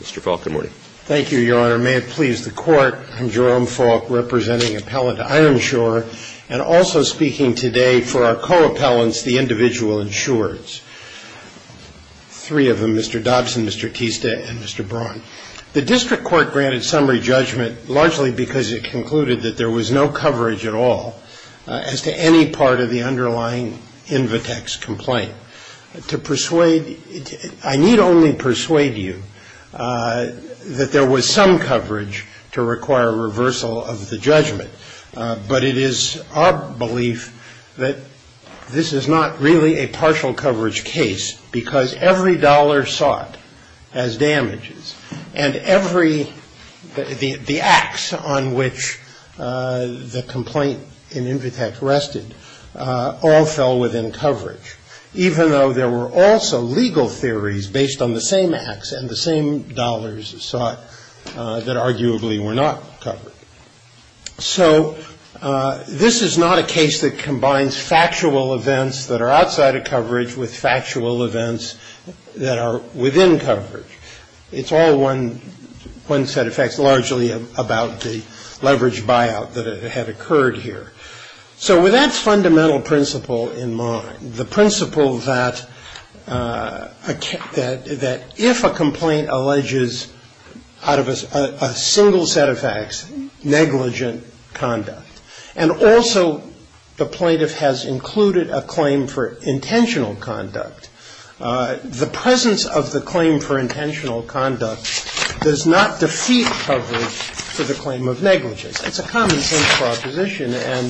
Mr. Falk, good morning. Thank you, Your Honor. May it please the Court, I'm Jerome Falk representing Appellant Ironshore and also speaking today for our co-appellants, the individual insurers. Three of them, Mr. Dobson, Mr. Tista, and Mr. Braun. The district court granted summary judgment largely because it concluded that there was no coverage at all as to any part of the underlying Invitex complaint. To persuade, I need only persuade you that there was some coverage to require reversal of the judgment, but it is our belief that this is not really a partial coverage case because every dollar sought as damages and every, the acts on which the complaint in Invitex rested all fell within coverage. Even though there were also legal theories based on the same acts and the same dollars sought that arguably were not covered. So this is not a case that combines factual events that are outside of coverage with factual events that are within coverage. It's all one set of facts, largely about the leverage buyout that had occurred here. So with that fundamental principle in mind, the principle that if a complaint alleges out of a single set of facts negligent conduct, and also the plaintiff has included a claim for intentional conduct, the presence of the claim for intentional conduct does not defeat coverage for the claim of negligence. It's a common-sense proposition, and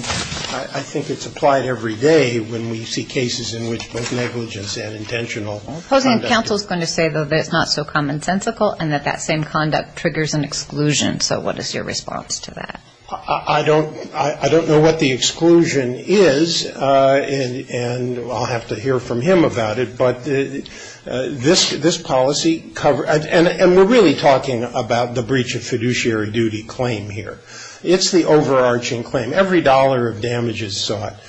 I think it's applied every day when we see cases in which both negligence and intentional conduct. Hosein, counsel is going to say that it's not so common-sensical and that that same conduct triggers an exclusion. So what is your response to that? I don't know what the exclusion is, and I'll have to hear from him about it. But this policy, and we're really talking about the breach of fiduciary duty claim here. It's the overarching claim. Every dollar of damage is sought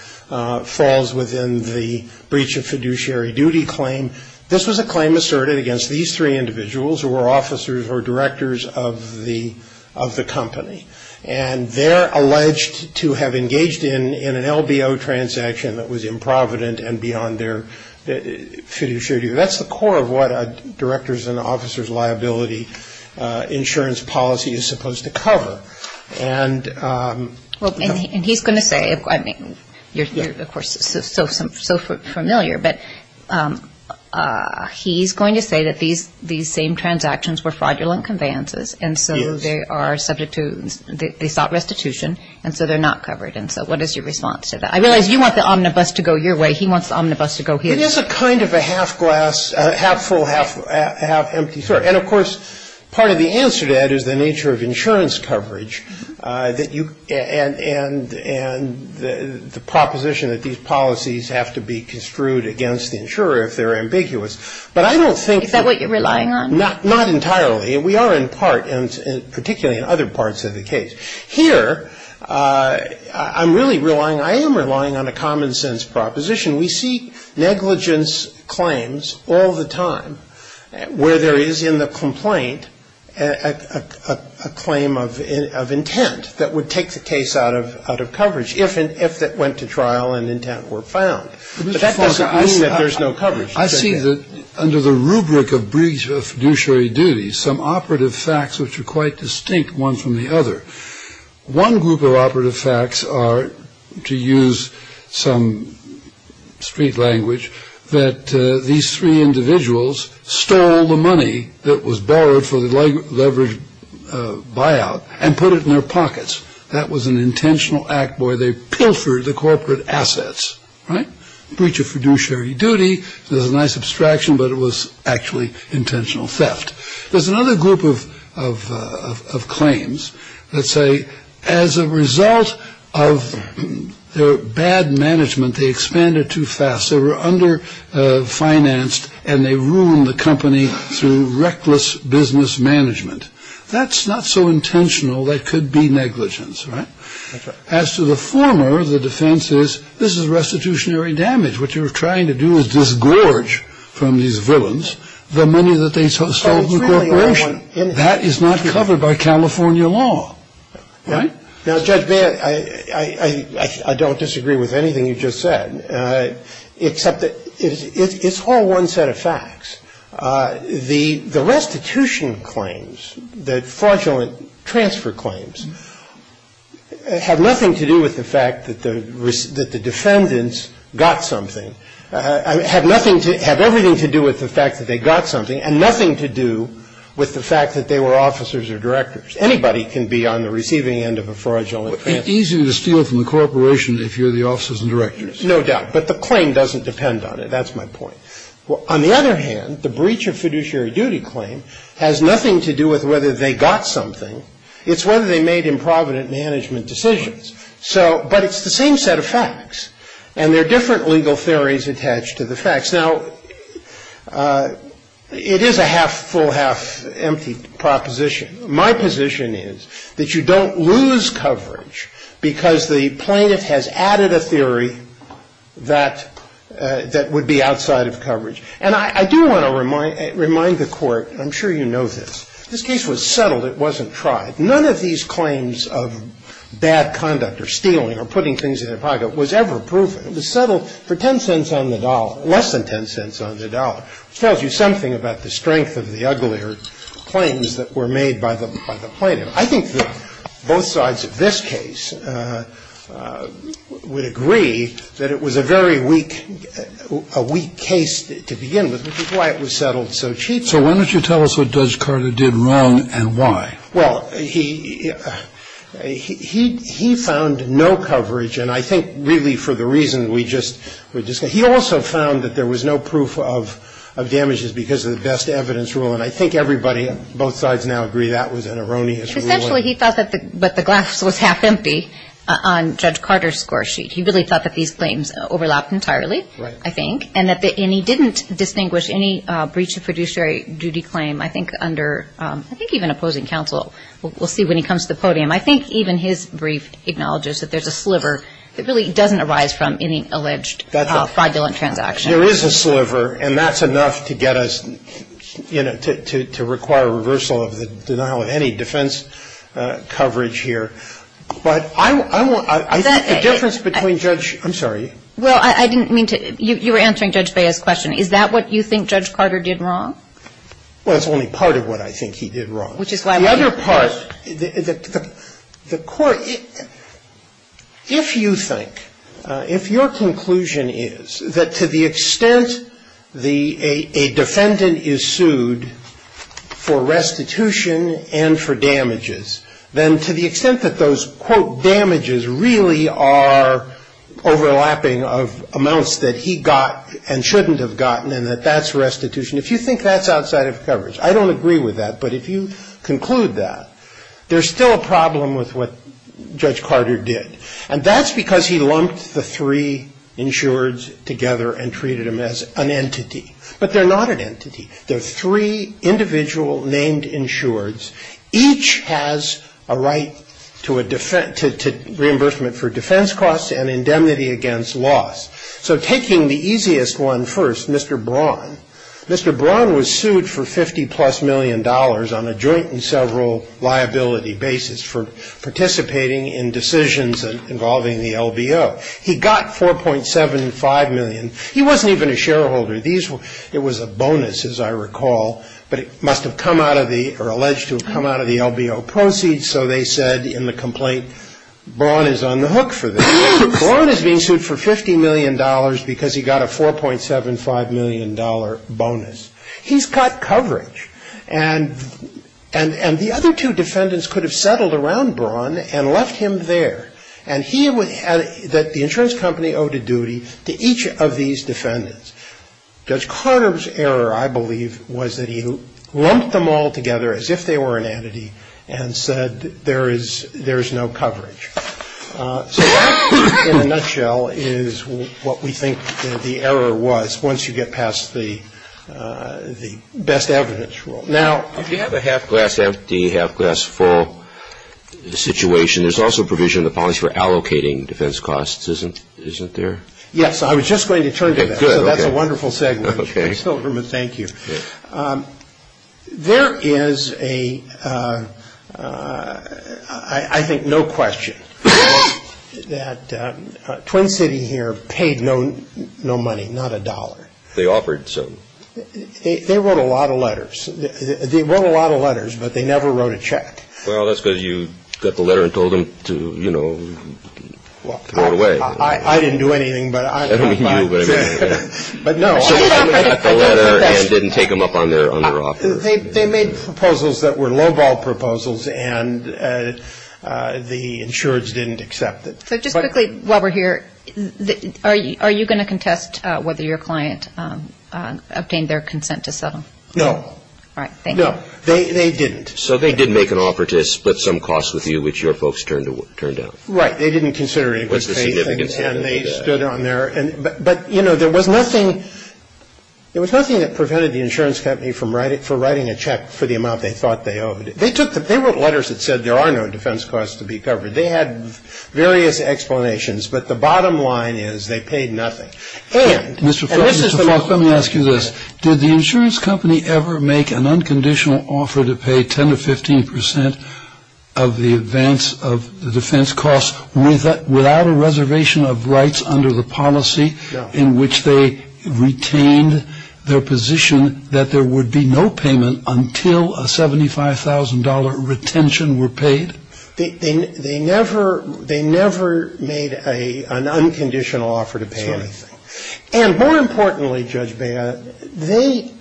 falls within the breach of fiduciary duty claim. This was a claim asserted against these three individuals who were officers or directors of the company, and they're alleged to have engaged in an LBO transaction that was improvident and beyond their fiduciary duty. That's the core of what a director's and officer's liability insurance policy is supposed to cover. And he's going to say, I mean, you're of course so familiar, but he's going to say that these same transactions were fraudulent conveyances, and so they are subject to, they sought restitution, and so they're not covered. And so what is your response to that? I realize you want the omnibus to go your way. He wants the omnibus to go his. It is a kind of a half glass, half full, half empty story. And of course, part of the answer to that is the nature of insurance coverage that you, and the proposition that these policies have to be construed against the insurer if they're ambiguous. But I don't think that. Is that what you're relying on? Not entirely. We are in part, and particularly in other parts of the case. Here, I'm really relying, I am relying on a common sense proposition. We see negligence claims all the time where there is in the complaint a claim of intent that would take the case out of coverage if it went to trial and intent were found. But that doesn't mean that there's no coverage. I see that under the rubric of brief fiduciary duties, some operative facts which are quite distinct one from the other. One group of operative facts are, to use some street language, that these three individuals stole the money that was borrowed for the leveraged buyout and put it in their pockets. That was an intentional act where they pilfered the corporate assets, right? Breach of fiduciary duty is a nice abstraction, but it was actually intentional theft. There's another group of claims that say as a result of their bad management, they expanded too fast. They were underfinanced, and they ruined the company through reckless business management. That's not so intentional. That could be negligence, right? That's right. As to the former, the defense is this is restitutionary damage. What you're trying to do is disgorge from these villains the money that they stole from the corporation. That is not covered by California law, right? Now, Judge Baird, I don't disagree with anything you just said, except that it's all one set of facts. The restitution claims, the fraudulent transfer claims, have nothing to do with the fact that the defendants got something, have everything to do with the fact that they got something, and nothing to do with the fact that they were officers or directors. Anybody can be on the receiving end of a fraudulent transfer. It's easier to steal from the corporation if you're the officers and directors. No doubt. But the claim doesn't depend on it. That's my point. On the other hand, the breach of fiduciary duty claim has nothing to do with whether they got something. It's whether they made improvident management decisions. So, but it's the same set of facts. And there are different legal theories attached to the facts. Now, it is a half-full, half-empty proposition. My position is that you don't lose coverage because the plaintiff has added a theory that would be outside of coverage. And I do want to remind the Court, and I'm sure you know this, this case was settled. It wasn't tried. None of these claims of bad conduct or stealing or putting things in their pocket was ever proven. It was settled for 10 cents on the dollar, less than 10 cents on the dollar, which tells you something about the strength of the uglier claims that were made by the plaintiff. I think that both sides of this case would agree that it was a very weak, a weak case to begin with, which is why it was settled so cheaply. So why don't you tell us what Judge Carter did wrong and why? Well, he found no coverage, and I think really for the reason we just discussed. He also found that there was no proof of damages because of the best evidence rule. And I think everybody, both sides now agree that was an erroneous ruling. Essentially, he thought that the glass was half-empty on Judge Carter's score sheet. He really thought that these claims overlapped entirely, I think. Right. And he didn't distinguish any breach of fiduciary duty claim. I think under, I think even opposing counsel. We'll see when he comes to the podium. I think even his brief acknowledges that there's a sliver that really doesn't arise from any alleged fraudulent transaction. There is a sliver, and that's enough to get us, you know, to require a reversal of the denial of any defense coverage here. But I think the difference between Judge – I'm sorry. Well, I didn't mean to – you were answering Judge Baez's question. Is that what you think Judge Carter did wrong? Well, it's only part of what I think he did wrong. Which is why we're here. The other part, the court – if you think, if your conclusion is that to the extent a defendant is sued for restitution and for damages, then to the extent that those, quote, damages really are overlapping of amounts that he got and shouldn't have gotten and that that's restitution, if you think that's outside of coverage, I don't agree with that. But if you conclude that, there's still a problem with what Judge Carter did. And that's because he lumped the three insureds together and treated them as an entity. But they're not an entity. They're three individual named insureds. Each has a right to reimbursement for defense costs and indemnity against loss. So taking the easiest one first, Mr. Braun. Mr. Braun was sued for $50-plus million on a joint and several liability basis for participating in decisions involving the LBO. He got $4.75 million. He wasn't even a shareholder. It was a bonus, as I recall. But it must have come out of the – or alleged to have come out of the LBO proceeds. So they said in the complaint, Braun is on the hook for this. Braun is being sued for $50 million because he got a $4.75 million bonus. He's got coverage. And the other two defendants could have settled around Braun and left him there. And he would – that the insurance company owed a duty to each of these defendants. Judge Carter's error, I believe, was that he lumped them all together as if they were an entity and said there is – there is no coverage. So that, in a nutshell, is what we think the error was once you get past the best evidence rule. Now – If you have a half-glass empty, half-glass full situation, there's also provision in the policy for allocating defense costs, isn't there? Yes. I was just going to turn to that. Good. Okay. So that's a wonderful segment. Okay. Thank you. There is a – I think no question that Twin City here paid no money, not a dollar. They offered some. They wrote a lot of letters. They wrote a lot of letters, but they never wrote a check. Well, that's because you got the letter and told them to, you know, throw it away. I didn't do anything, but I – I don't mean you, but I mean – But, no. So they only got the letter and didn't take them up on their offer. They made proposals that were lowball proposals, and the insurers didn't accept it. So just quickly, while we're here, are you going to contest whether your client obtained their consent to settle? No. All right. Thank you. No. They didn't. So they did make an offer to split some costs with you, which your folks turned down. Right. They didn't consider it. What's the significance of that? And they stood on their – but, you know, there was nothing – there was nothing that prevented the insurance company from writing – for writing a check for the amount they thought they owed. They took the – they wrote letters that said there are no defense costs to be covered. They had various explanations, but the bottom line is they paid nothing. And – Mr. Falk, Mr. Falk, let me ask you this. Did the insurance company ever make an unconditional offer to pay 10 to 15 percent of the advance – of the defense costs without a reservation of rights under the policy in which they retained their position that there would be no payment until a $75,000 retention were paid? They never – they never made a – an unconditional offer to pay anything. That's right. And more importantly, Judge Bea, they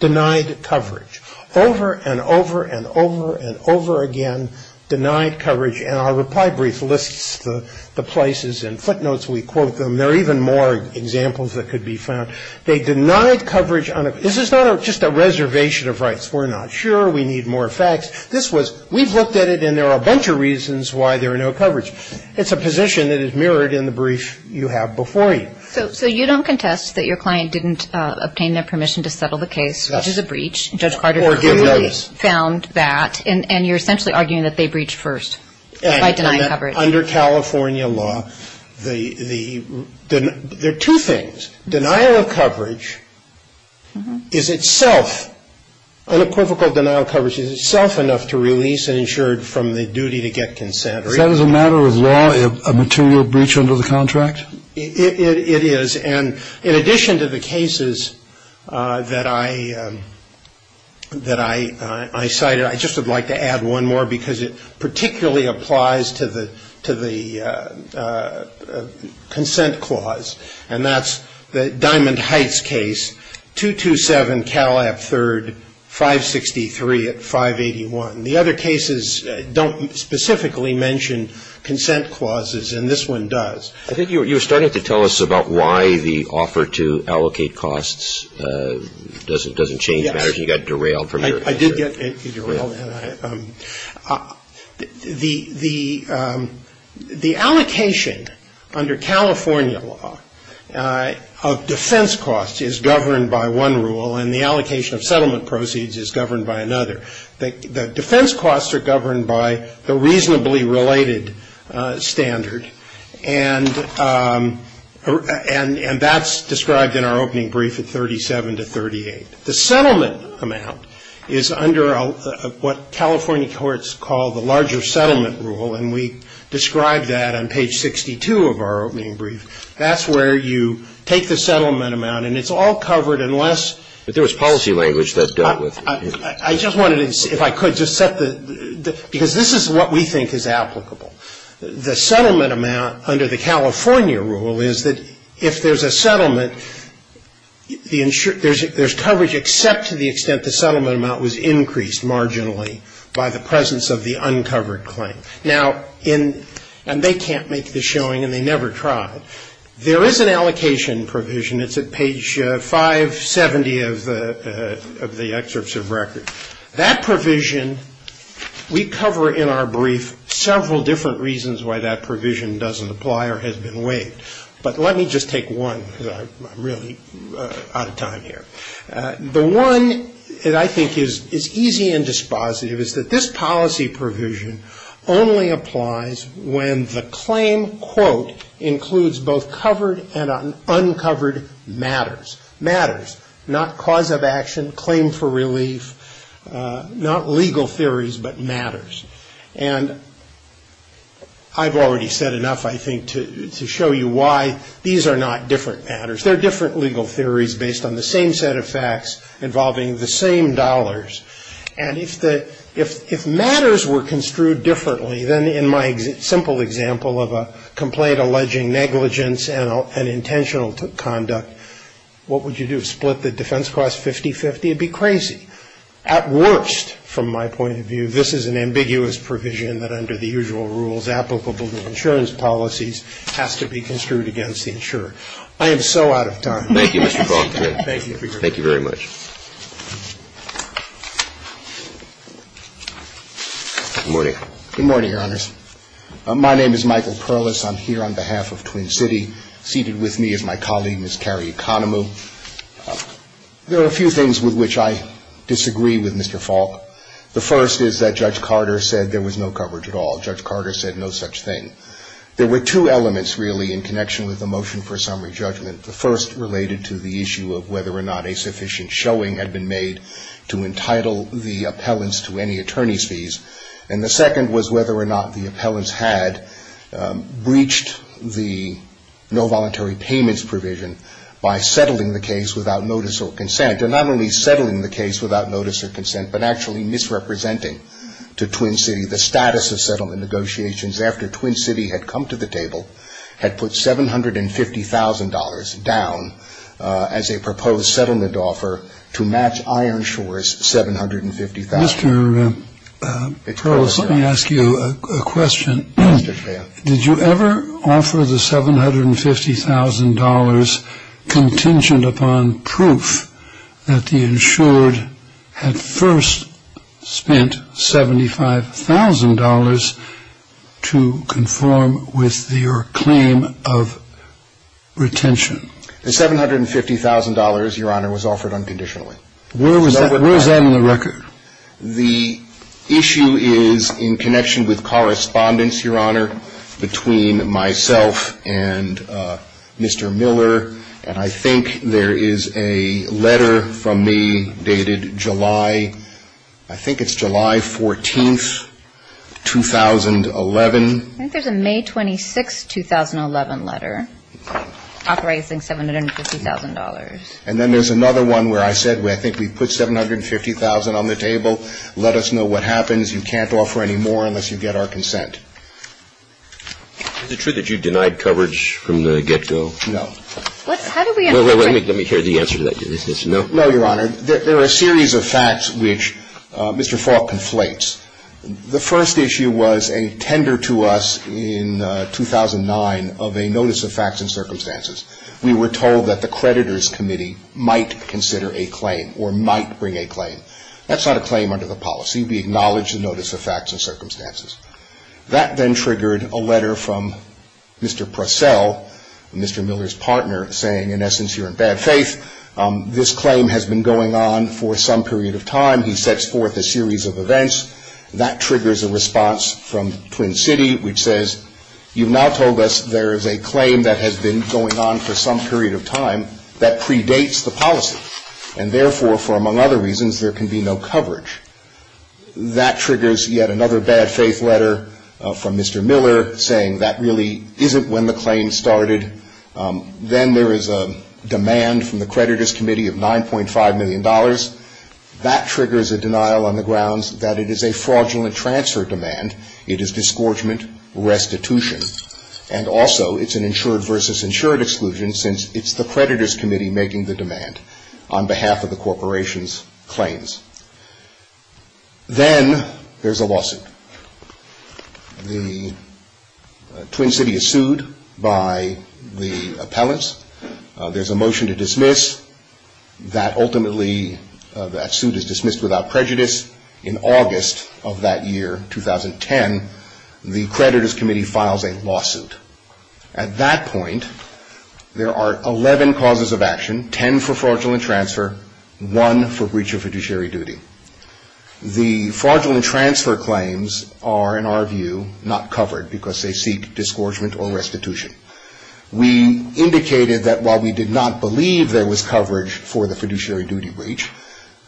denied coverage. Over and over and over and over again denied coverage. And our reply brief lists the places and footnotes. We quote them. There are even more examples that could be found. They denied coverage on a – this is not just a reservation of rights. We're not sure. We need more facts. This was – we've looked at it and there are a bunch of reasons why there are no coverage. It's a position that is mirrored in the brief you have before you. So you don't contest that your client didn't obtain their permission to settle the case, which is a breach. Yes. Or give notice. Judge Carter clearly found that. And you're essentially arguing that they breached first by denying coverage. Under California law, the – there are two things. Denial of coverage is itself – unequivocal denial of coverage is itself enough to release an insured from the duty to get consent. Is that as a matter of law a material breach under the contract? It is. And in addition to the cases that I – that I cited, I just would like to add one more because it particularly applies to the – to the consent clause. And that's the Diamond Heights case, 227 Calab III, 563 at 581. The other cases don't specifically mention consent clauses and this one does. I think you were starting to tell us about why the offer to allocate costs doesn't change matters. You got derailed from your answer. I did get derailed. The allocation under California law of defense costs is governed by one rule and the allocation of settlement proceeds is governed by another. The defense costs are governed by the reasonably related standard. And that's described in our opening brief at 37 to 38. The settlement amount is under what California courts call the larger settlement rule and we describe that on page 62 of our opening brief. That's where you take the settlement amount and it's all covered unless – But there was policy language that dealt with it. I just wanted to, if I could, just set the – because this is what we think is applicable. The settlement amount under the California rule is that if there's a settlement, there's coverage except to the extent the settlement amount was increased marginally by the presence of the uncovered claim. Now, in – and they can't make this showing and they never tried. There is an allocation provision. It's at page 570 of the excerpts of record. That provision, we cover in our brief several different reasons why that provision doesn't apply or has been waived. But let me just take one because I'm really out of time here. The one that I think is easy and dispositive is that this policy provision only applies when the claim, quote, includes both covered and uncovered matters. Not cause of action, claim for relief, not legal theories, but matters. And I've already said enough, I think, to show you why these are not different matters. They're different legal theories based on the same set of facts involving the same dollars. And if matters were construed differently than in my simple example of a complaint alleging negligence and intentional conduct, what would you do? Split the defense cost 50-50? It would be crazy. At worst, from my point of view, this is an ambiguous provision that under the usual rules applicable to insurance policies has to be construed against the insurer. I am so out of time. Thank you, Mr. Baldwin. Thank you. Thank you very much. Good morning. Good morning, Your Honors. My name is Michael Perlis. I'm here on behalf of Twin City. Seated with me is my colleague, Ms. Carrie Economo. There are a few things with which I disagree with Mr. Falk. The first is that Judge Carter said there was no coverage at all. Judge Carter said no such thing. There were two elements, really, in connection with the motion for summary judgment. The first related to the issue of whether or not a sufficient showing had been made to entitle the appellants to any attorney's fees. And the second was whether or not the appellants had breached the no voluntary payments provision by settling the case without notice or consent. And not only settling the case without notice or consent, but actually misrepresenting to Twin City the status of settlement negotiations after Twin City had come to the table, had put $750,000 down as a proposed settlement offer to match Ironshore's $750,000. Mr. Perlis, let me ask you a question. Did you ever offer the $750,000 contingent upon proof that the insured had first spent $75,000 to conform with your claim of retention? The $750,000, Your Honor, was offered unconditionally. Where was that in the record? The issue is in connection with correspondence, Your Honor, between myself and Mr. Miller. And I think there is a letter from me dated July, I think it's July 14th, 2011. I think there's a May 26th, 2011 letter authorizing $750,000. And then there's another one where I said I think we put $750,000 on the table. Let us know what happens. You can't offer any more unless you get our consent. Is it true that you denied coverage from the get-go? No. How do we understand that? Let me hear the answer to that. No, Your Honor. There are a series of facts which Mr. Faulk conflates. The first issue was a tender to us in 2009 of a notice of facts and circumstances. We were told that the creditors committee might consider a claim or might bring a claim. That's not a claim under the policy. We acknowledge the notice of facts and circumstances. That then triggered a letter from Mr. Purcell, Mr. Miller's partner, saying, in essence, you're in bad faith. This claim has been going on for some period of time. He sets forth a series of events. That triggers a response from Twin City, which says, you've now told us there is a claim that has been going on for some period of time that predates the policy, and therefore, for among other reasons, there can be no coverage. That triggers yet another bad faith letter from Mr. Miller saying that really isn't when the claim started. Then there is a demand from the creditors committee of $9.5 million. That triggers a denial on the grounds that it is a fraudulent transfer demand. It is disgorgement restitution. And also, it's an insured versus insured exclusion since it's the creditors committee making the demand on behalf of the corporation's claims. Then there's a lawsuit. The Twin City is sued by the appellants. There's a motion to dismiss. That ultimately, that suit is dismissed without prejudice. In August of that year, 2010, the creditors committee files a lawsuit. At that point, there are 11 causes of action, 10 for fraudulent transfer, 1 for breach of fiduciary duty. The fraudulent transfer claims are, in our view, not covered because they seek disgorgement or restitution. We indicated that while we did not believe there was coverage for the fiduciary duty breach,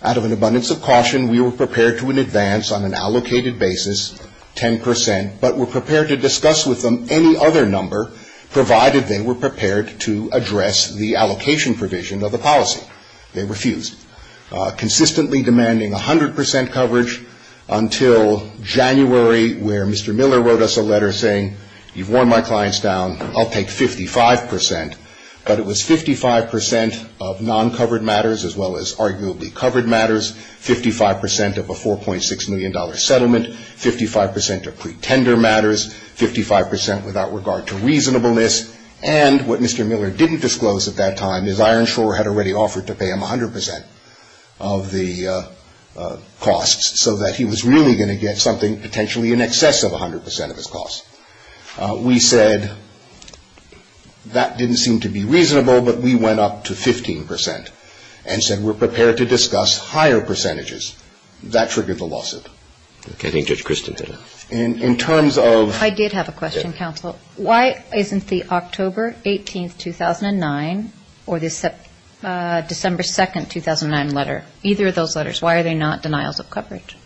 out of an abundance of caution, we were prepared to advance on an allocated basis 10 percent, but were prepared to discuss with them any other number provided they were prepared to address the allocation provision of the policy. They refused, consistently demanding 100 percent coverage until January where Mr. Miller wrote us a letter saying, you've worn my clients down, I'll take 55 percent. But it was 55 percent of non-covered matters as well as arguably covered matters, 55 percent of a $4.6 million settlement, 55 percent of pretender matters, 55 percent without regard to reasonableness, and what Mr. Miller didn't disclose at that time is Iron Shore had already offered to pay him 100 percent of the costs so that he was really going to get something potentially in excess of 100 percent of his costs. We said that didn't seem to be reasonable, but we went up to 15 percent and said we're prepared to discuss higher percentages. That triggered the lawsuit. Okay. I think Judge Christin did. In terms of ‑‑ I did have a question, counsel. Why isn't the October 18th, 2009, or the December 2nd, 2009 letter, either of those letters, why are they not denials of coverage?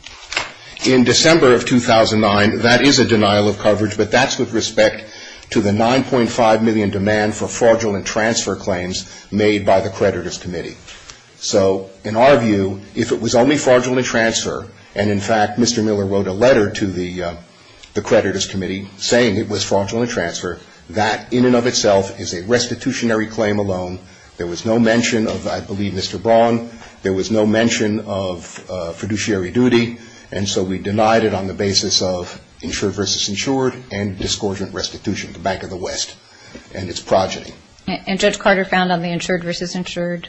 In December of 2009, that is a denial of coverage, but that's with respect to the 9.5 million demand for fraudulent transfer claims made by the creditors' committee. So in our view, if it was only fraudulent transfer, and, in fact, Mr. Miller wrote a letter to the creditors' committee saying it was fraudulent transfer, that in and of itself is a restitutionary claim alone. There was no mention of, I believe, Mr. Braun. There was no mention of fiduciary duty, and so we denied it on the basis of insured versus insured and discordant restitution, the Bank of the West and its progeny. And Judge Carter found on the insured versus insured?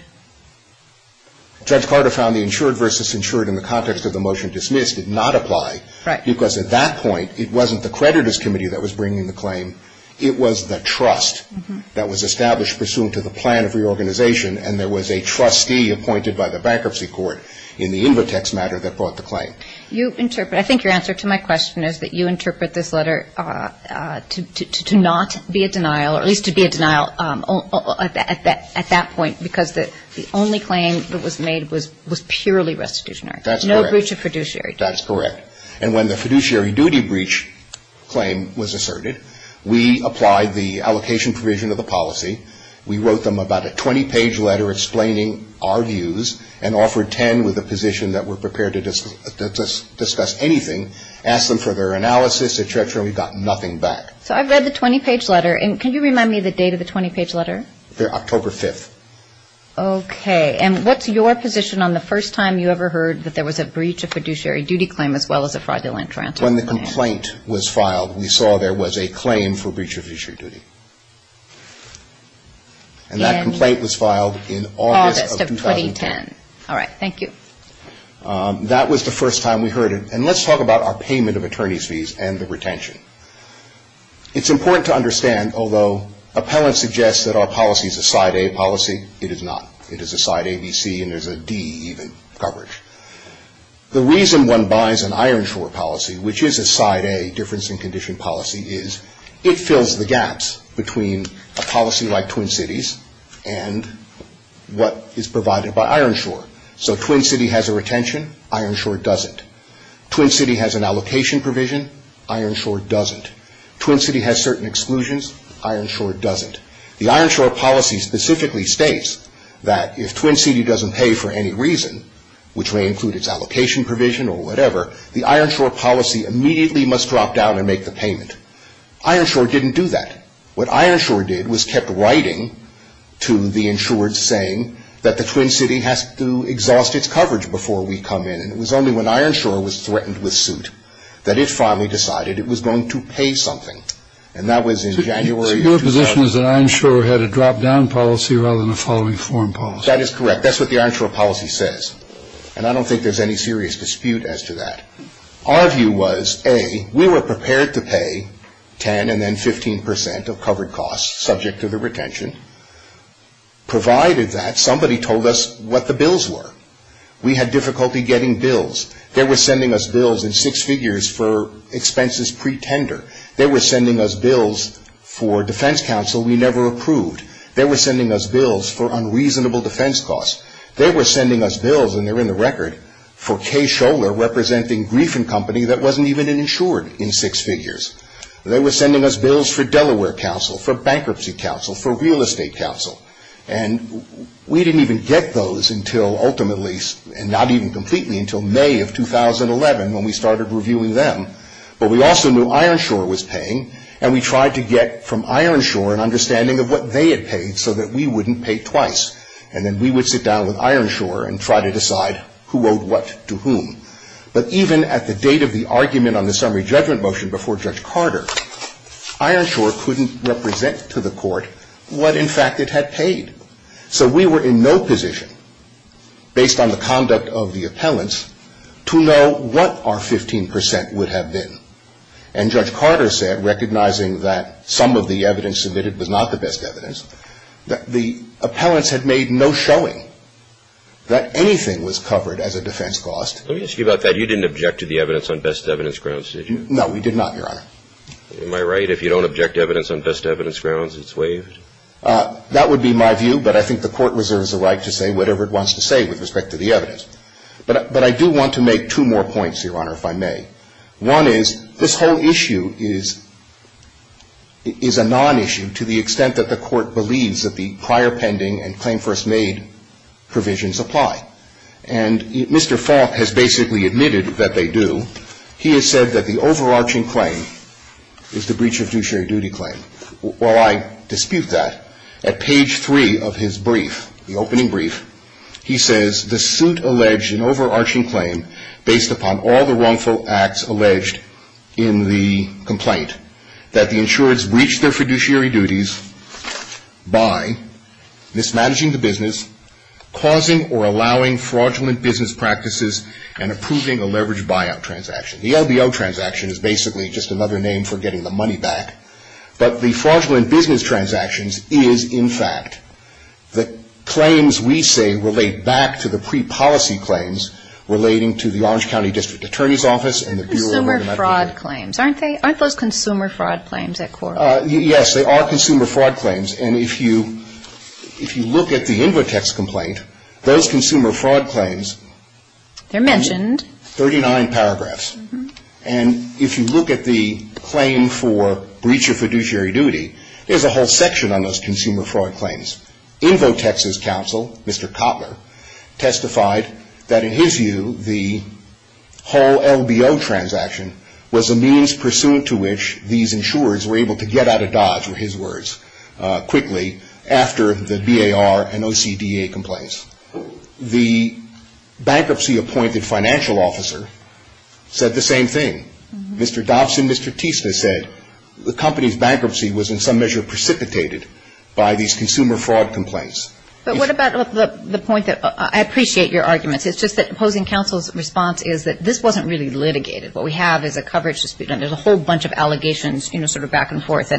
Judge Carter found the insured versus insured in the context of the motion dismissed did not apply. Right. Because at that point, it wasn't the creditors' committee that was bringing the claim. It was the trust that was established pursuant to the plan of reorganization, and there was a trustee appointed by the bankruptcy court in the InvoTax matter that brought the claim. I think your answer to my question is that you interpret this letter to not be a denial, or at least to be a denial at that point because the only claim that was made was purely restitutionary. That's correct. No breach of fiduciary duty. That's correct. And when the fiduciary duty breach claim was asserted, we applied the allocation provision of the policy. We wrote them about a 20-page letter explaining our views and offered 10 with a position that we're prepared to discuss anything, asked them for their analysis, etc., and we got nothing back. So I've read the 20-page letter. And can you remind me of the date of the 20-page letter? October 5th. Okay. And what's your position on the first time you ever heard that there was a breach of fiduciary duty claim as well as a fraudulent transfer? When the complaint was filed, we saw there was a claim for breach of fiduciary duty. And that complaint was filed in August of 2010. August of 2010. All right. Thank you. That was the first time we heard it. And let's talk about our payment of attorney's fees and the retention. It's important to understand, although appellants suggest that our policy is a Side A policy, it is not. It is a Side A, B, C, and there's a D even coverage. The reason one buys an Ironshore policy, which is a Side A difference in condition policy, is it fills the gaps between a policy like Twin Cities and what is provided by Ironshore. So Twin City has a retention. Ironshore doesn't. Twin City has an allocation provision. Ironshore doesn't. Twin City has certain exclusions. Ironshore doesn't. The Ironshore policy specifically states that if Twin City doesn't pay for any reason, which may include its allocation provision or whatever, the Ironshore policy immediately must drop down and make the payment. Ironshore didn't do that. What Ironshore did was kept writing to the insured saying that the Twin City has to exhaust its coverage before we come in. And it was only when Ironshore was threatened with suit that it finally decided it was going to pay something. And that was in January of 2000. So your position is that Ironshore had a drop-down policy rather than a following-form policy? That is correct. That's what the Ironshore policy says. And I don't think there's any serious dispute as to that. Our view was, A, we were prepared to pay 10 and then 15 percent of covered costs subject to the retention, provided that somebody told us what the bills were. We had difficulty getting bills. They were sending us bills in six figures for expenses pre-tender. They were sending us bills for defense counsel we never approved. They were sending us bills for unreasonable defense costs. They were sending us bills, and they're in the record, for Kay Scholer representing Griffin Company that wasn't even insured in six figures. They were sending us bills for Delaware Counsel, for Bankruptcy Counsel, for Real Estate Counsel. And we didn't even get those until ultimately, and not even completely, until May of 2011 when we started reviewing them. But we also knew Ironshore was paying, and we tried to get from Ironshore an understanding of what they had paid so that we wouldn't pay twice. And then we would sit down with Ironshore and try to decide who owed what to whom. But even at the date of the argument on the summary judgment motion before Judge Carter, Ironshore couldn't represent to the court what, in fact, it had paid. So we were in no position, based on the conduct of the appellants, to know what our 15 percent would have been. And Judge Carter said, recognizing that some of the evidence submitted was not the best evidence, that the appellants had made no showing that anything was covered as a defense cost. Let me ask you about that. You didn't object to the evidence on best evidence grounds, did you? No, we did not, Your Honor. Am I right? If you don't object to evidence on best evidence grounds, it's waived? That would be my view, but I think the Court reserves the right to say whatever it wants to say with respect to the evidence. But I do want to make two more points, Your Honor, if I may. One is, this whole issue is a non-issue to the extent that the Court believes that the prior pending and claim first made provisions apply. And Mr. Faulk has basically admitted that they do. He has said that the overarching claim is the breach of duty claim. While I dispute that, at page three of his brief, the opening brief, he says, the suit alleged an overarching claim based upon all the wrongful acts alleged in the complaint, that the insureds breached their fiduciary duties by mismanaging the business, causing or allowing fraudulent business practices, and approving a leveraged buyout transaction. The LBO transaction is basically just another name for getting the money back. But the fraudulent business transactions is, in fact, the claims we say relate back to the pre-policy claims relating to the Orange County District Attorney's Office and the Bureau of Legal Advocacy. Consumer fraud claims. Aren't those consumer fraud claims at court? Yes, they are consumer fraud claims. And if you look at the InvoTex complaint, those consumer fraud claims. They're mentioned. 39 paragraphs. And if you look at the claim for breach of fiduciary duty, there's a whole section on those consumer fraud claims. InvoTex's counsel, Mr. Kotler, testified that in his view, the whole LBO transaction was a means pursuant to which these insurers were able to get out of dodge, were his words, quickly after the BAR and OCDA complaints. The bankruptcy-appointed financial officer said the same thing. Mr. Dobson, Mr. Teissner said the company's bankruptcy was in some measure precipitated by these consumer fraud complaints. But what about the point that – I appreciate your arguments. It's just that opposing counsel's response is that this wasn't really litigated. What we have is a coverage dispute, and there's a whole bunch of allegations, you know, sort of back and forth.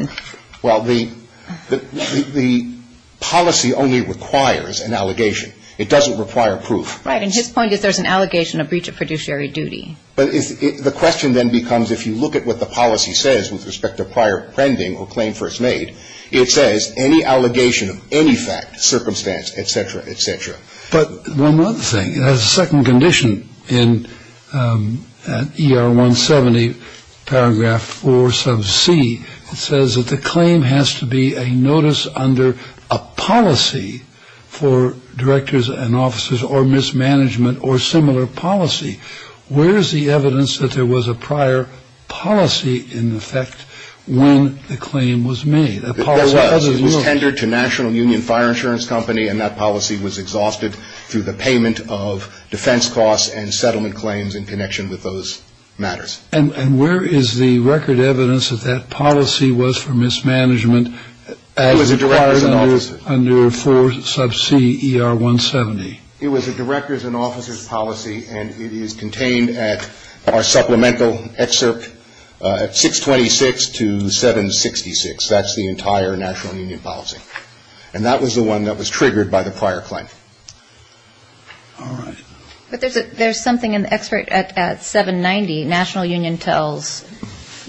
Well, the policy only requires an allegation. It doesn't require proof. Right. And his point is there's an allegation of breach of fiduciary duty. But the question then becomes if you look at what the policy says with respect to prior pending or claim first made, it says any allegation of any fact, circumstance, et cetera, et cetera. But one other thing. It has a second condition in ER 170, paragraph 4 sub c. It says that the claim has to be a notice under a policy for directors and officers or mismanagement or similar policy. Where is the evidence that there was a prior policy in effect when the claim was made? There was. It was tendered to National Union Fire Insurance Company, and that policy was exhausted through the payment of defense costs and settlement claims in connection with those matters. And where is the record evidence that that policy was for mismanagement as required under 4 sub c. ER 170? It was a directors and officers policy, and it is contained at our supplemental excerpt 626 to 766. That's the entire National Union policy. And that was the one that was triggered by the prior claim. All right. But there's something in the excerpt at 790. National Union tells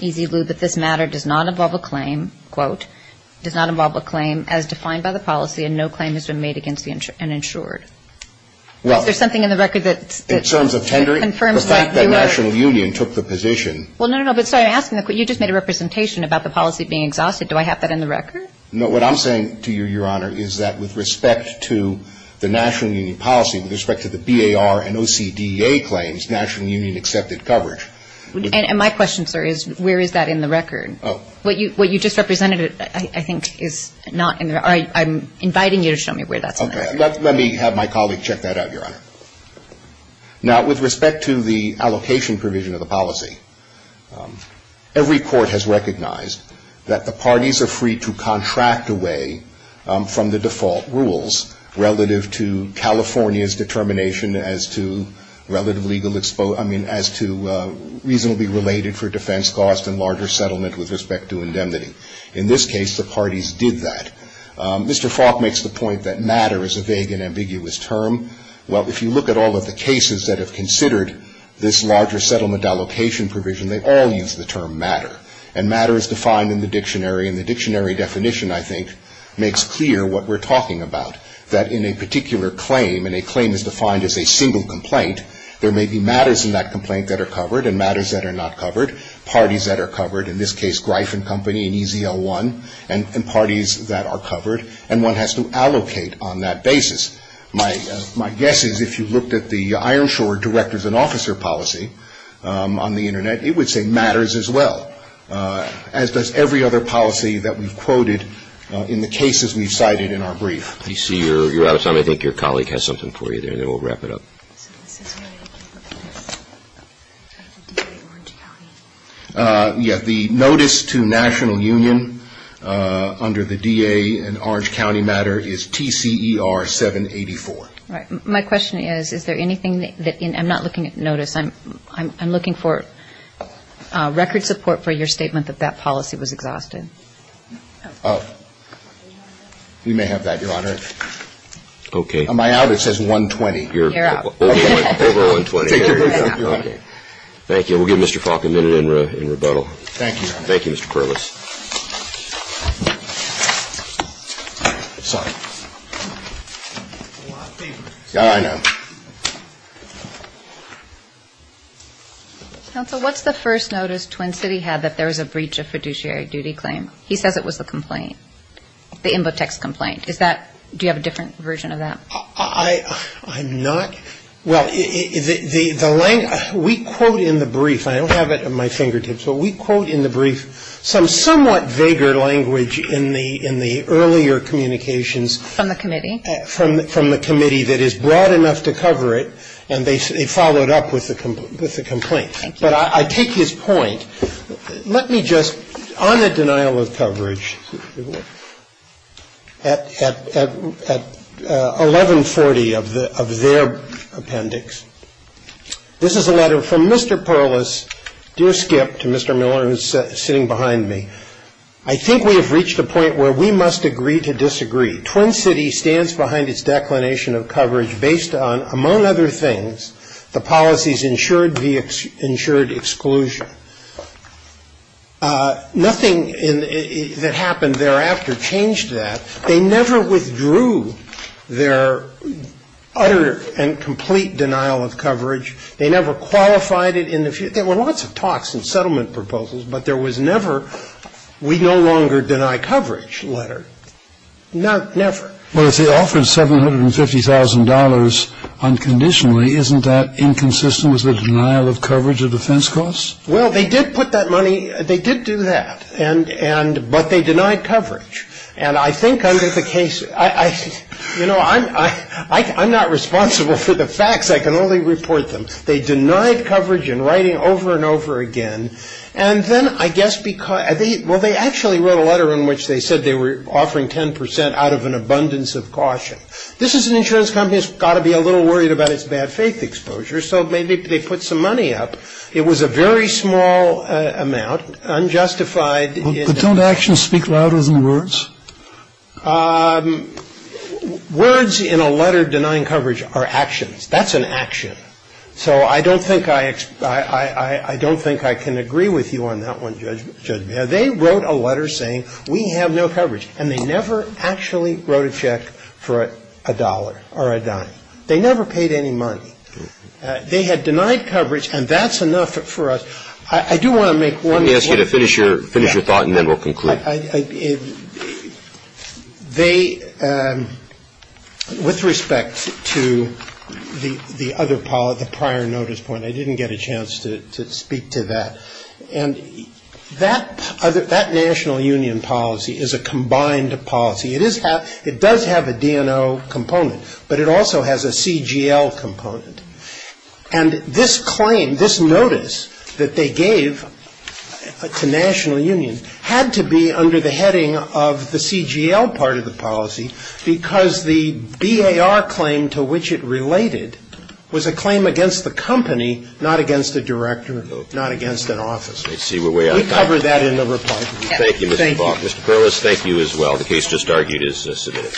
EZ Lu that this matter does not involve a claim, quote, does not involve a claim as defined by the policy, and no claim has been made against and insured. Is there something in the record that confirms that you are? In terms of tendering, the fact that National Union took the position. Well, no, no, no. So I'm asking, you just made a representation about the policy being exhausted. Do I have that in the record? No, what I'm saying to you, Your Honor, is that with respect to the National Union policy, with respect to the BAR and OCDA claims, National Union accepted coverage. And my question, sir, is where is that in the record? Oh. What you just represented, I think, is not in the record. I'm inviting you to show me where that's in the record. Okay. Let me have my colleague check that out, Your Honor. Now, with respect to the allocation provision of the policy, every court has recognized that the parties are free to contract away from the default rules relative to California's determination as to relative legal, I mean, as to reasonably related for defense costs and larger settlement with respect to indemnity. In this case, the parties did that. Mr. Faulk makes the point that matter is a vague and ambiguous term. Well, if you look at all of the cases that have considered this larger settlement allocation provision, they all use the term matter. And matter is defined in the dictionary. And the dictionary definition, I think, makes clear what we're talking about, that in a particular claim, and a claim is defined as a single complaint, there may be matters in that complaint that are covered and matters that are not covered, parties that are covered, in this case, Greif and Company and EZL1, and parties that are covered. And one has to allocate on that basis. My guess is if you looked at the Ironshore directors and officer policy on the Internet, it would say matters as well, as does every other policy that we've quoted in the cases we've cited in our brief. I think your colleague has something for you there, and then we'll wrap it up. Yes, the notice to national union under the DA and Orange County matter is TCER 784. All right. My question is, is there anything that I'm not looking at notice. I'm looking for record support for your statement that that policy was exhausted. Oh, you may have that, Your Honor. Okay. Am I out? It says 120. You're out. Over 120. Thank you, Your Honor. Thank you. We'll give Mr. Falk a minute in rebuttal. Thank you, Your Honor. Thank you, Mr. Perlis. Sorry. All right, now. Counsel, what's the first notice Twin City had that there was a breach of fiduciary duty claim? He says it was the complaint, the InvoTex complaint. Is that do you have a different version of that? I'm not. Well, we quote in the brief. I don't have it at my fingertips, but we quote in the brief some somewhat vaguer language in the earlier communications. From the committee. From the committee that is broad enough to cover it, and they followed up with the complaint. But I take his point. Let me just, on the denial of coverage, at 1140 of their appendix. This is a letter from Mr. Perlis, dear Skip, to Mr. Miller, who's sitting behind me. I think we have reached a point where we must agree to disagree. Twin City stands behind its declination of coverage based on, among other things, the policies ensured via ensured exclusion. Nothing that happened thereafter changed that. They never withdrew their utter and complete denial of coverage. They never qualified it. There were lots of talks and settlement proposals, but there was never we no longer deny coverage letter. Not never. Well, if they offered $750,000 unconditionally, isn't that inconsistent with the denial of coverage of defense costs? Well, they did put that money. They did do that. And and but they denied coverage. And I think under the case, you know, I'm I'm not responsible for the facts. I can only report them. They denied coverage in writing over and over again. And then I guess because they well, they actually wrote a letter in which they said they were offering 10 percent out of an abundance of caution. This is an insurance company has got to be a little worried about its bad faith exposure. So maybe they put some money up. It was a very small amount unjustified. But don't actions speak louder than words? Words in a letter denying coverage are actions. That's an action. So I don't think I I don't think I can agree with you on that one, Judge. They wrote a letter saying we have no coverage. And they never actually wrote a check for a dollar or a dime. They never paid any money. They had denied coverage. And that's enough for us. I do want to make one. Let me ask you to finish your finish your thought and then we'll conclude. I I they with respect to the the other part of the prior notice point, I didn't get a chance to speak to that. And that other that national union policy is a combined policy. It is. It does have a DNO component, but it also has a CGL component. And this claim, this notice that they gave to national union had to be under the heading of the CGL part of the policy, because the BAR claim to which it related was a claim against the company, not against a director, not against an office. We cover that in the report. Thank you, Mr. Faulk. Mr. Perlis, thank you as well. The case just argued is submitted.